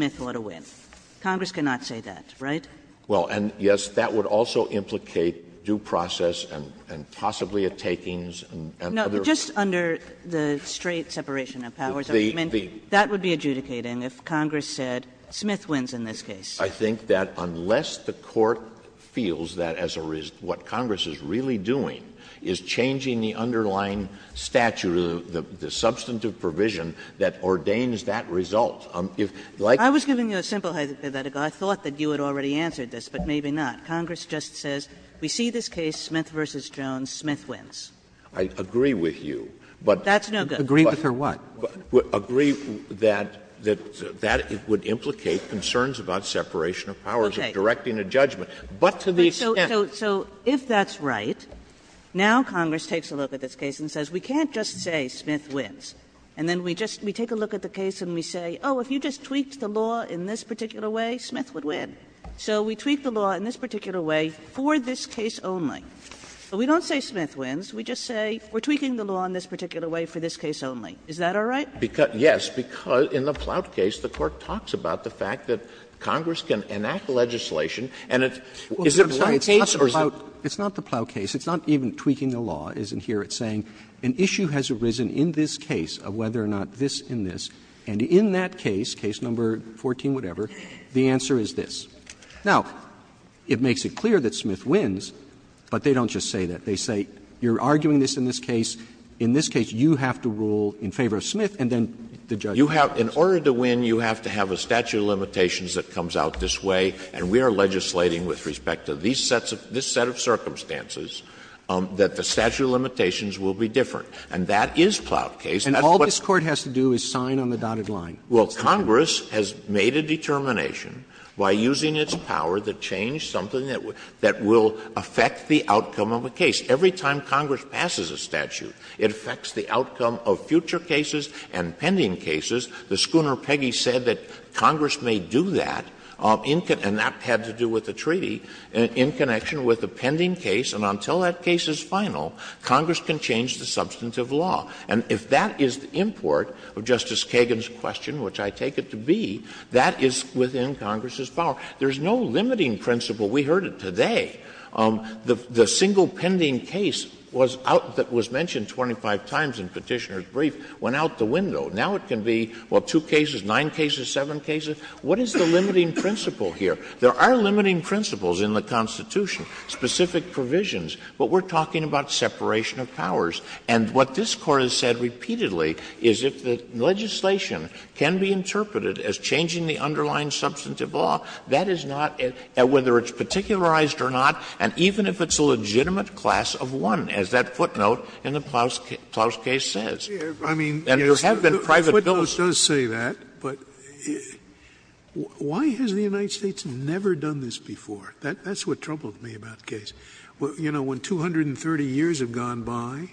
Kagan. Kagan. Kagan. Kagan. Well, and yes, that would also implicate due process and possibly a takings and other. No, just under the straight separation of powers. I mean, that would be adjudicating if Congress said Smith wins in this case. I think that unless the court feels that as a risk, what Congress is really doing is changing the underlying statute, the substantive provision that ordains that result. If, like. I was giving you a simple hypothetical. I thought that you had already answered this, but maybe not. Congress just says, we see this case, Smith v. Jones, Smith wins. I agree with you, but. That's no good. Agree with her what? Agree that that would implicate concerns about separation of powers. Okay. Of directing a judgment. But to the extent. So if that's right, now Congress takes a look at this case and says, we can't just say Smith wins. And then we just take a look at the case and we say, oh, if you just tweaked the law in this particular way, Smith would win. So we tweak the law in this particular way for this case only. So we don't say Smith wins. We just say we're tweaking the law in this particular way for this case only. Is that all right? Because, yes, because in the Ploutt case, the Court talks about the fact that Congress can enact legislation and it's. Is it the Ploutt case or is it. Roberts. It's not the Ploutt case. It's not even tweaking the law. It's in here, it's saying an issue has arisen in this case of whether or not this case is in this, and in that case, case number 14, whatever, the answer is this. Now, it makes it clear that Smith wins, but they don't just say that. They say you're arguing this in this case. In this case, you have to rule in favor of Smith, and then the judge. Alito. In order to win, you have to have a statute of limitations that comes out this way. And we are legislating with respect to these sets of this set of circumstances that the statute of limitations will be different. And that is Ploutt case. And all this Court has to do is sign on the dotted line. Well, Congress has made a determination by using its power to change something that will affect the outcome of a case. Every time Congress passes a statute, it affects the outcome of future cases and pending cases. The schooner Peggy said that Congress may do that, and that had to do with the treaty, in connection with the pending case. And until that case is final, Congress can change the substantive law. And if that is the import of Justice Kagan's question, which I take it to be, that is within Congress's power. There is no limiting principle. We heard it today. The single pending case was out that was mentioned 25 times in Petitioner's brief went out the window. Now it can be, well, two cases, nine cases, seven cases. What is the limiting principle here? There are limiting principles in the Constitution, specific provisions, but we're talking about separation of powers. And what this Court has said repeatedly is if the legislation can be interpreted as changing the underlying substantive law, that is not, whether it's particularized or not, and even if it's a legitimate class of one, as that footnote in the Klaus case says. Scalia, I mean, yes, the footnote does say that, but why has the United States That's what troubled me about the case. You know, when 230 years have gone by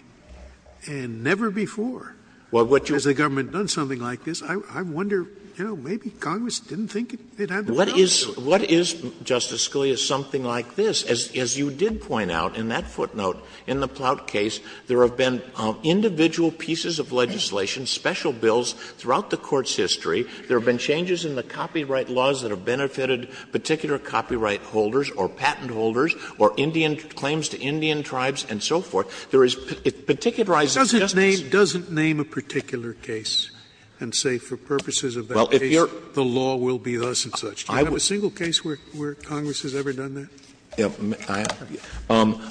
and never before has the government done something like this, I wonder, you know, maybe Congress didn't think it had the power to do it. What is, Justice Scalia, something like this? As you did point out in that footnote in the Ploutt case, there have been individual pieces of legislation, special bills throughout the Court's history. There have been changes in the copyright laws that have benefited particular copyright holders or patent holders or Indian claims to Indian tribes and so forth. There is particularized justice. Scalia, it doesn't name a particular case and say for purposes of that case, the law will be thus and such. Do you have a single case where Congress has ever done that?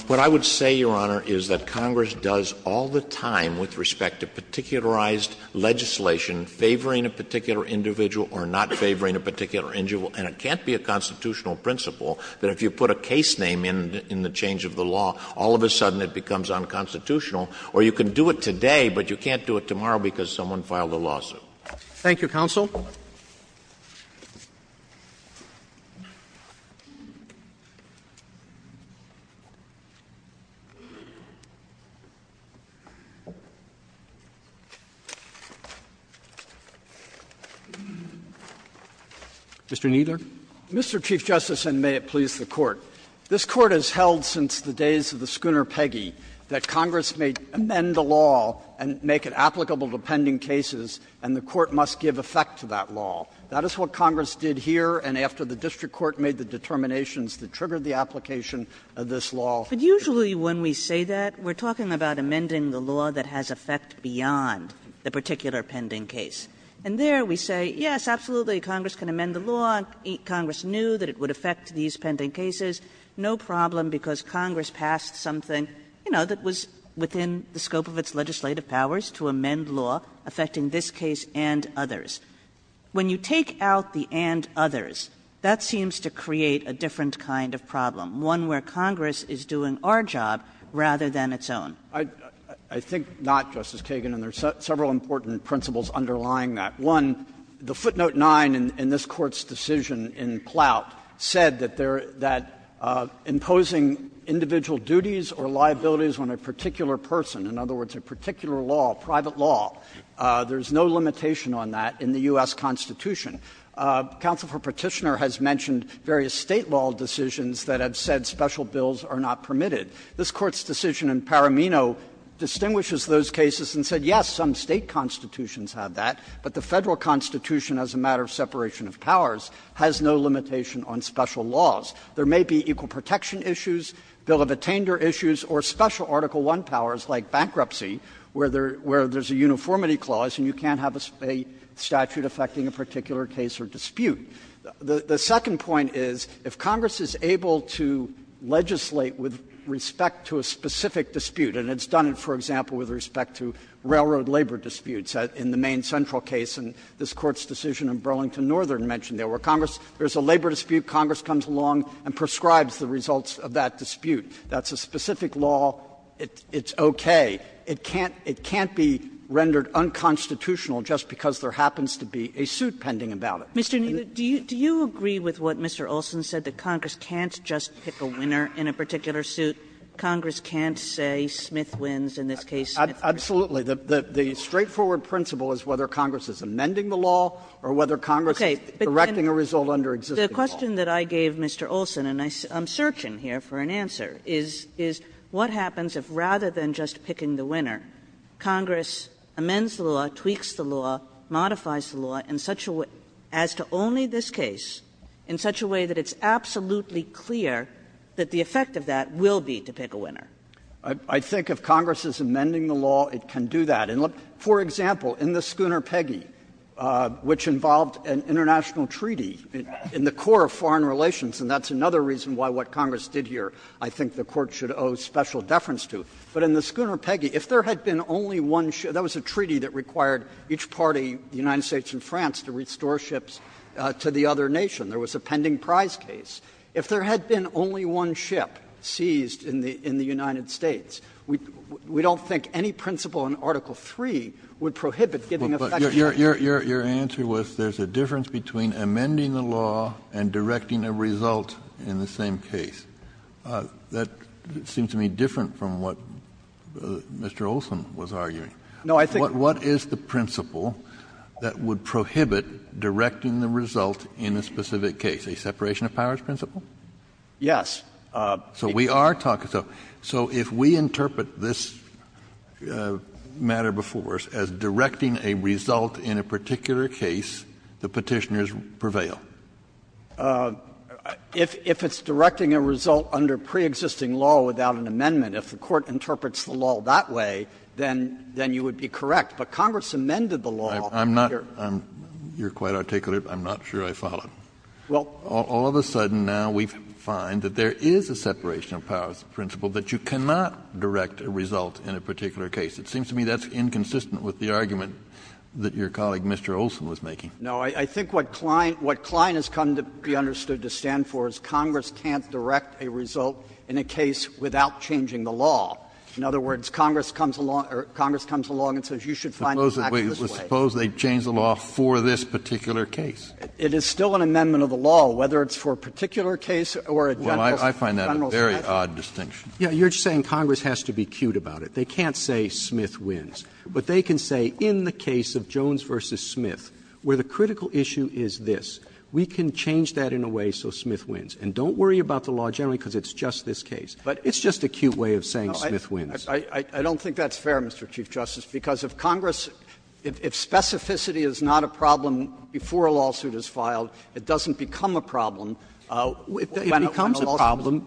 What I would say, Your Honor, is that Congress does all the time with respect to particularized legislation favoring a particular individual or not favoring a particular individual, and it can't be a constitutional principle that if you put a case name in the change of the law, all of a sudden it becomes unconstitutional, or you can do it today, but you can't do it tomorrow because someone filed a lawsuit. Roberts. Thank you, counsel. Mr. Kneedler. Mr. Chief Justice, and may it please the Court. This Court has held since the days of the Schooner Peggy that Congress may amend the law and make it applicable to pending cases, and the Court must give effect to that law. That is what Congress did here, and after the district court made the determinations that triggered the application of this law. Kagan. But usually when we say that, we are talking about amending the law that has effect beyond the particular pending case. And there we say, yes, absolutely, Congress can amend the law, Congress knew that it would affect these pending cases, no problem, because Congress passed something that was within the scope of its legislative powers to amend law affecting this case and others. When you take out the and others, that seems to create a different kind of problem, one where Congress is doing our job rather than its own. I think not, Justice Kagan, and there are several important principles underlying that. One, the footnote 9 in this Court's decision in Plout said that imposing individual duties or liabilities on a particular person, in other words, a particular law, private law, there is no limitation on that in the U.S. Constitution. Counsel for Petitioner has mentioned various State law decisions that have said special bills are not permitted. This Court's decision in Paramino distinguishes those cases and said, yes, some State constitutions have that, but the Federal Constitution, as a matter of separation of powers, has no limitation on special laws. There may be equal protection issues, bill of attainder issues, or special Article I powers like bankruptcy, where there's a uniformity clause and you can't have a statute affecting a particular case or dispute. The second point is, if Congress is able to legislate with respect to a specific dispute, and it's done it, for example, with respect to railroad labor disputes in the main central case, and this Court's decision in Burlington Northern mentioned when there is a labor dispute, Congress comes along and prescribes the results of that dispute. That's a specific law. It's okay. It can't be rendered unconstitutional because there happens to be a suit pending about it. Kagannan напрacted Mr. Kneedler, do you agree with what Mr. Olsen said, that Congress can't just pick a winner in a particular suit, Congress can't say Smith wins, in this case Smith wins? Kneedler Absolutely. The straightforward principle is whether Congress is amending the law or whether Congress is directing it. Kagannan The question that I gave Mr. Olsen, and I'm searching here for an answer, is what happens if rather than just picking the winner, Congress amends the law, tweaks the law, modifies the law in such a way, as to only this case, in such a way that it's absolutely clear that the effect of that will be to pick a winner? Kneedler I think if Congress is amending the law, it can do that. For example, in the Schooner-Peggy, which involved an international treaty in the core of foreign relations, and that's another reason why what Congress did here I think the Court should owe special deference to, but in the Schooner-Peggy, if there had been only one ship, that was a treaty that required each party, the United States and France, to restore ships to the other nation, there was a pending prize case. If there had been only one ship seized in the United States, we don't think any principle in Article III would prohibit giving a factual answer. Kennedy But your answer was there's a difference between amending the law and directing a result in the same case. That seems to me different from what Mr. Olson was arguing. Kneedler No, I think the principle that would prohibit directing the result in a specific case, a separation of powers principle? Kneedler Yes. Kennedy So we are talking so, so if we interpret this matter before us as directing a result in a particular case, the Petitioners prevail. Kneedler If it's directing a result under preexisting law without an amendment, if the Court interprets the law that way, then you would be correct. But Congress amended the law. Kennedy I'm not, you're quite articulate, but I'm not sure I followed. All of a sudden now we find that there is a separation of powers principle, that you cannot direct a result in a particular case. It seems to me that's inconsistent with the argument that your colleague, Mr. Olson, was making. Kneedler No, I think what Klein has come to be understood to stand for is Congress can't direct a result in a case without changing the law. In other words, Congress comes along and says you should find it back this way. Kennedy Suppose they change the law for this particular case. Kneedler It is still an amendment of the law, whether it's for a particular case or a general case. Kennedy Well, I find that a very odd distinction. Roberts Yeah, you're just saying Congress has to be cute about it. They can't say Smith wins. But they can say in the case of Jones v. Smith, where the critical issue is this. We can change that in a way so Smith wins. And don't worry about the law generally because it's just this case. But it's just a cute way of saying Smith wins. Kneedler I don't think that's fair, Mr. Chief Justice, because if Congress, if specificity is not a problem before a lawsuit is filed, it doesn't become a problem when a lawsuit is filed. Roberts It becomes a problem,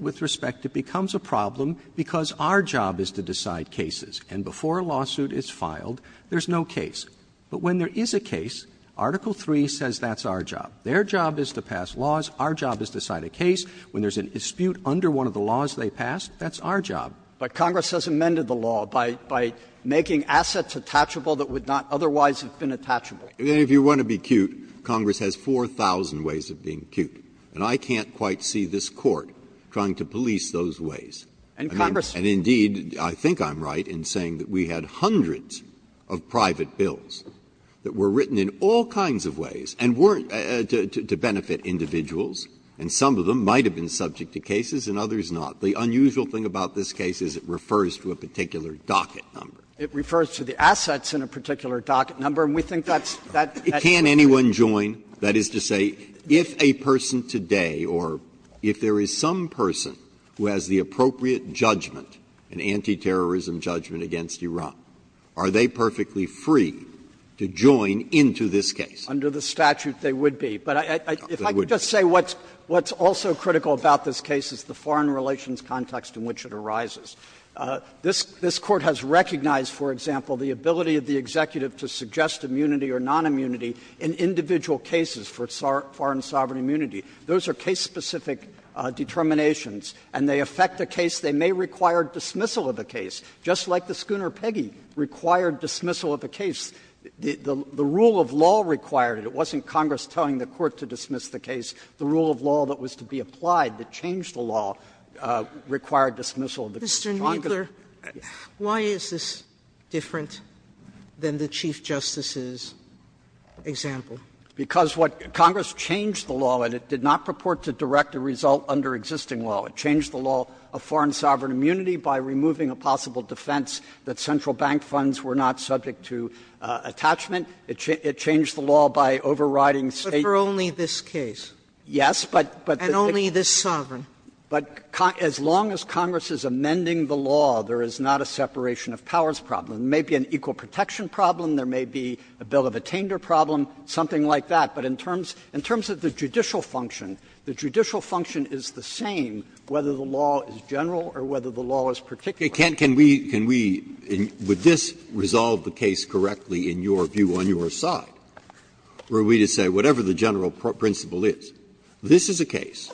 with respect, it becomes a problem because our job is to decide cases. And before a lawsuit is filed, there's no case. But when there is a case, Article III says that's our job. Their job is to pass laws. Our job is to cite a case. When there's an dispute under one of the laws they passed, that's our job. Kneedler But Congress has amended the law by making assets attachable that would not otherwise have been attachable. Breyer If you want to be cute, Congress has 4,000 ways of being cute, and I can't quite see this Court trying to police those ways. And indeed, I think I'm right in saying that we had hundreds of private bills that were written in all kinds of ways and weren't to benefit individuals, and some of them might have been subject to cases and others not. The unusual thing about this case is it refers to a particular docket number. It refers to the assets in a particular docket number, and we think that's the case. Breyer Can anyone join, that is to say, if a person today, or if there is some person who has the appropriate judgment, an anti-terrorism judgment against Iran, are they perfectly free to join into this case? Kneedler Under the statute, they would be. But if I could just say what's also critical about this case is the foreign relations context in which it arises. This Court has recognized, for example, the ability of the executive to suggest immunity or nonimmunity in individual cases for foreign sovereign immunity. Those are case-specific determinations, and they affect a case. They may require dismissal of the case, just like the Schooner Peggy required dismissal of the case. The rule of law required it. It wasn't Congress telling the Court to dismiss the case. The rule of law that was to be applied that changed the law required dismissal of the case. Sotomayor Mr. Kneedler, why is this different than the Chief Justice's example? Kneedler Because what Congress changed the law, and it did not purport to direct a result under existing law. It changed the law of foreign sovereign immunity by removing a possible defense that central bank funds were not subject to attachment. It changed the law by overriding State's. Sotomayor But for only this case? Kneedler Yes, but, but the. Sotomayor And only this sovereign? Kneedler But as long as Congress is amending the law, there is not a separation of powers problem. There may be an equal protection problem. There may be a bill of attainder problem, something like that. But in terms of the judicial function, the judicial function is the same whether the law is general or whether the law is particular. Breyer Can we, can we, would this resolve the case correctly in your view on your side, were we to say whatever the general principle is, this is a case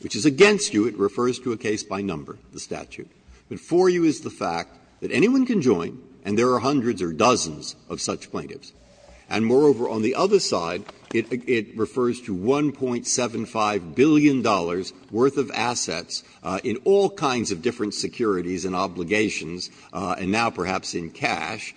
which is against you, it refers to a case by number, the statute. But for you is the fact that anyone can join and there are hundreds or dozens of such plaintiffs. And moreover, on the other side, it refers to $1.75 billion worth of assets in all kinds of different securities and obligations, and now perhaps in cash,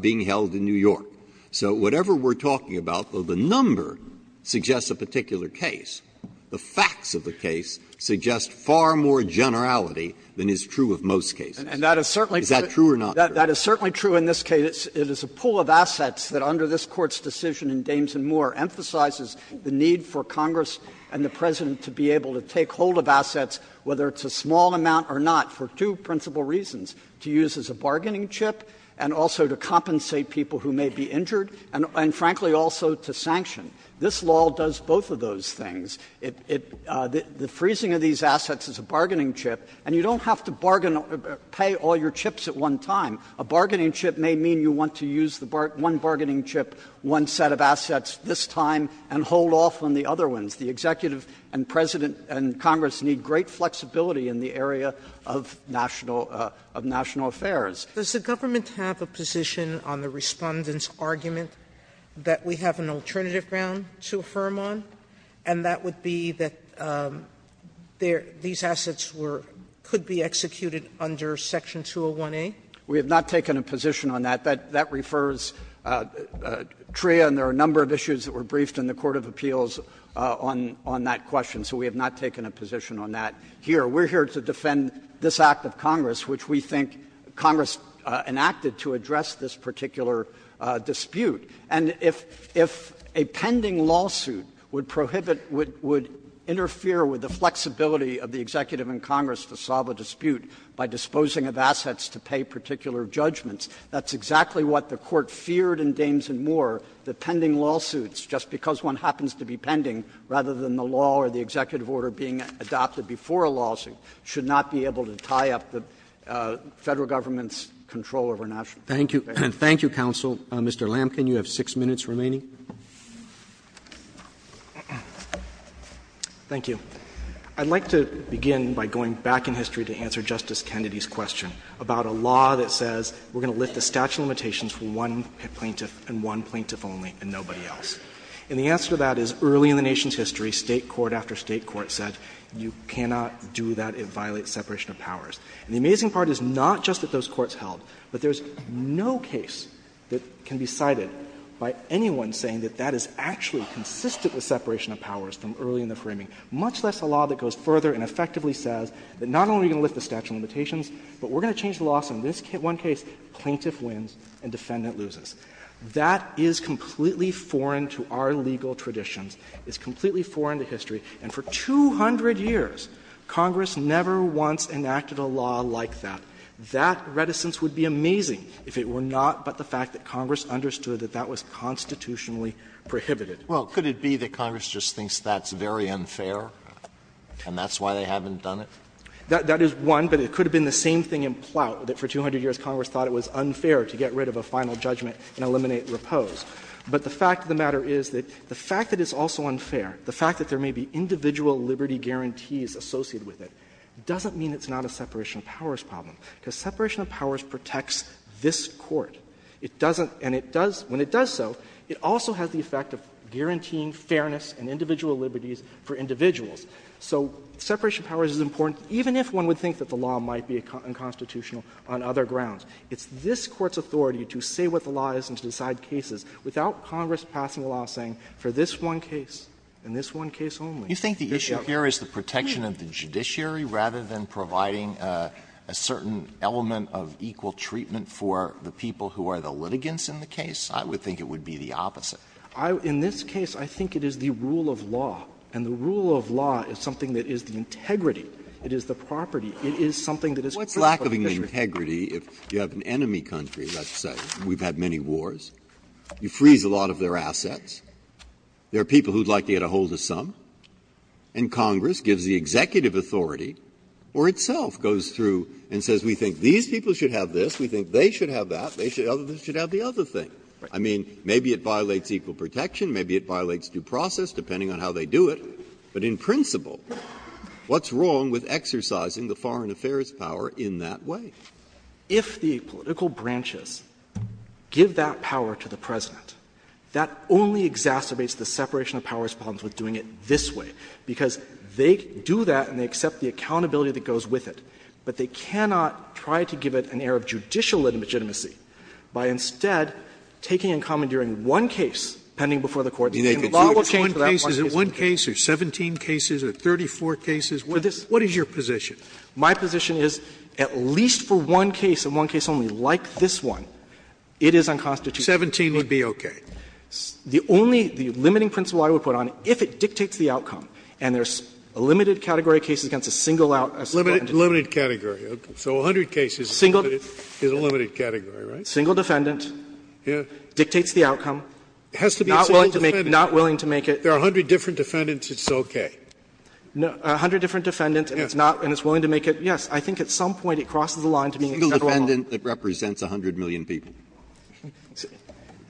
being held in New York. So whatever we're talking about, though the number suggests a particular case, the number suggests far more generality than is true of most cases. Is that true or not true? Kneedler That is certainly true in this case. It is a pool of assets that under this Court's decision in Dames and Moore emphasizes the need for Congress and the President to be able to take hold of assets, whether it's a small amount or not, for two principal reasons, to use as a bargaining chip and also to compensate people who may be injured, and frankly also to sanction. This law does both of those things. It the freezing of these assets is a bargaining chip, and you don't have to bargain or pay all your chips at one time. A bargaining chip may mean you want to use the one bargaining chip, one set of assets this time, and hold off on the other ones. The Executive and President and Congress need great flexibility in the area of national affairs. Sotomayor Does the government have a position on the Respondent's argument that we have an alternative ground to affirm on, and that would be that there these assets were, could be executed under Section 201A? Kneedler We have not taken a position on that. That refers, Tria, and there are a number of issues that were briefed in the court of appeals on that question, so we have not taken a position on that here. We are here to defend this Act of Congress, which we think Congress enacted to address this particular dispute. And if a pending lawsuit would prohibit, would interfere with the flexibility of the Executive and Congress to solve a dispute by disposing of assets to pay particular judgments, that's exactly what the Court feared in Dames and Moore, that pending lawsuits, just because one happens to be pending rather than the law or the executive order being adopted before a lawsuit, should not be able to tie up the Federal government's control over national affairs. Roberts Thank you, counsel. Mr. Lamken, you have 6 minutes remaining. Lamken Thank you. I'd like to begin by going back in history to answer Justice Kennedy's question about a law that says we're going to lift the statute of limitations for one plaintiff and one plaintiff only and nobody else. And the answer to that is early in the nation's history, State court after State court said you cannot do that, it violates separation of powers. And the amazing part is not just that those courts held, but there's no case that can be cited by anyone saying that that is actually consistent with separation of powers from early in the framing, much less a law that goes further and effectively says that not only are we going to lift the statute of limitations, but we're going to change the law, so in this one case, plaintiff wins and defendant loses. That is completely foreign to our legal traditions, it's completely foreign to history, and for 200 years, Congress never once enacted a law like that. That reticence would be amazing if it were not but the fact that Congress understood that that was constitutionally prohibited. Alito Well, could it be that Congress just thinks that's very unfair and that's why they haven't done it? Lamken That is one, but it could have been the same thing in Plout that for 200 years Congress thought it was unfair to get rid of a final judgment and eliminate repose. But the fact of the matter is that the fact that it's also unfair, the fact that there may be individual liberty guarantees associated with it, doesn't mean it's not a separation of powers problem, because separation of powers protects this Court. It doesn't, and it does, when it does so, it also has the effect of guaranteeing fairness and individual liberties for individuals. So separation of powers is important, even if one would think that the law might be unconstitutional on other grounds. It's this Court's authority to say what the law is and to decide cases without Congress passing a law saying for this one case and this one case only. Alito You think the issue here is the protection of the judiciary rather than providing a certain element of equal treatment for the people who are the litigants in the case? I would think it would be the opposite. Lamken In this case, I think it is the rule of law, and the rule of law is something that is the integrity, it is the property, it is something that is critical to the judiciary. Breyer What's lack of integrity if you have an enemy country, let's say, and we've had many wars, you freeze a lot of their assets, there are people who would like to get a hold of some, and Congress gives the executive authority or itself goes through and says we think these people should have this, we think they should have that, they should have the other thing. I mean, maybe it violates equal protection, maybe it violates due process, depending on how they do it, but in principle, what's wrong with exercising the foreign affairs power in that way? If the political branches give that power to the President, that only exacerbates the separation of powers problems with doing it this way, because they do that and they accept the accountability that goes with it, but they cannot try to give it an air of judicial legitimacy by instead taking and commandeering one case pending before the court. Scalia And the law will change to that one case. Scalia Is it one case or 17 cases or 34 cases? Lamken What is your position? My position is at least for one case, and one case only like this one, it is unconstitutional. Scalia 17 would be okay. Lamken The only, the limiting principle I would put on, if it dictates the outcome and there's a limited category of cases against a single out. Scalia Limited category, so 100 cases is a limited category, right? Lamken Single defendant dictates the outcome. Scalia It has to be a single defendant. Lamken Not willing to make it. Scalia There are 100 different defendants, it's okay. Lamken No, 100 different defendants and it's not, and it's willing to make it, yes. I think at some point it crosses the line to being a single out. Breyer A single defendant that represents 100 million people. Lamken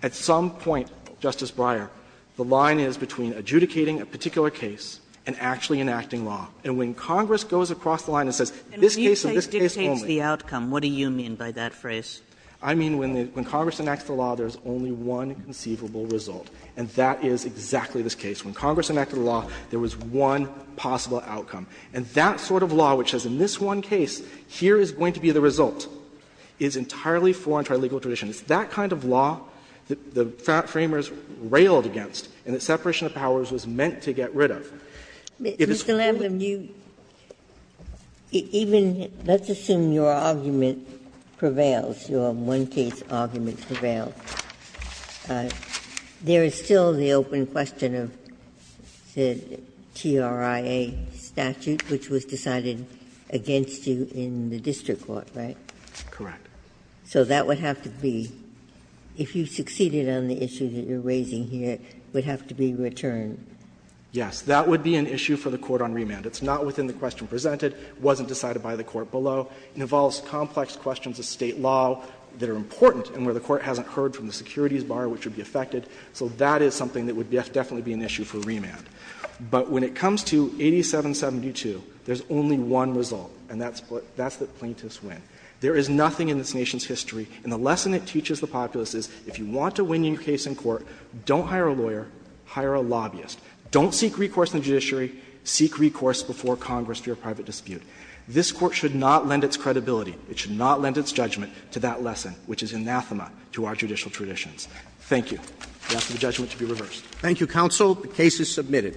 At some point, Justice Breyer, the line is between adjudicating a particular case and actually enacting law. And when Congress goes across the line and says this case dictates the outcome. Kagan And when you say dictates the outcome, what do you mean by that phrase? Lamken I mean when Congress enacts the law, there is only one conceivable result, and that is exactly this case. When Congress enacted the law, there was one possible outcome. And that sort of law, which says in this one case, here is going to be the result, is entirely foreign to our legal tradition. It's that kind of law that the framers railed against and that separation of powers was meant to get rid of. Ginsburg If it's going to be a single defendant, you, even, let's assume your argument prevails, your one-case argument prevails. There is still the open question of the TRIA statute, which was decided against you in the district court, right? Lamken Correct. Ginsburg So that would have to be, if you succeeded on the issue that you are raising here, it would have to be returned. Lamken Yes. That would be an issue for the court on remand. It's not within the question presented. It wasn't decided by the court below. It involves complex questions of State law that are important and where the court hasn't heard from the securities bar which would be affected, so that is something that would definitely be an issue for remand. But when it comes to 8772, there is only one result, and that's the plaintiff's win. There is nothing in this Nation's history, and the lesson it teaches the populace is if you want to win your case in court, don't hire a lawyer, hire a lobbyist. Don't seek recourse in the judiciary. Seek recourse before Congress for your private dispute. This Court should not lend its credibility, it should not lend its judgment to that judicial tradition. Thank you. I ask the judgment to be reversed. Roberts. Thank you, counsel. The case is submitted.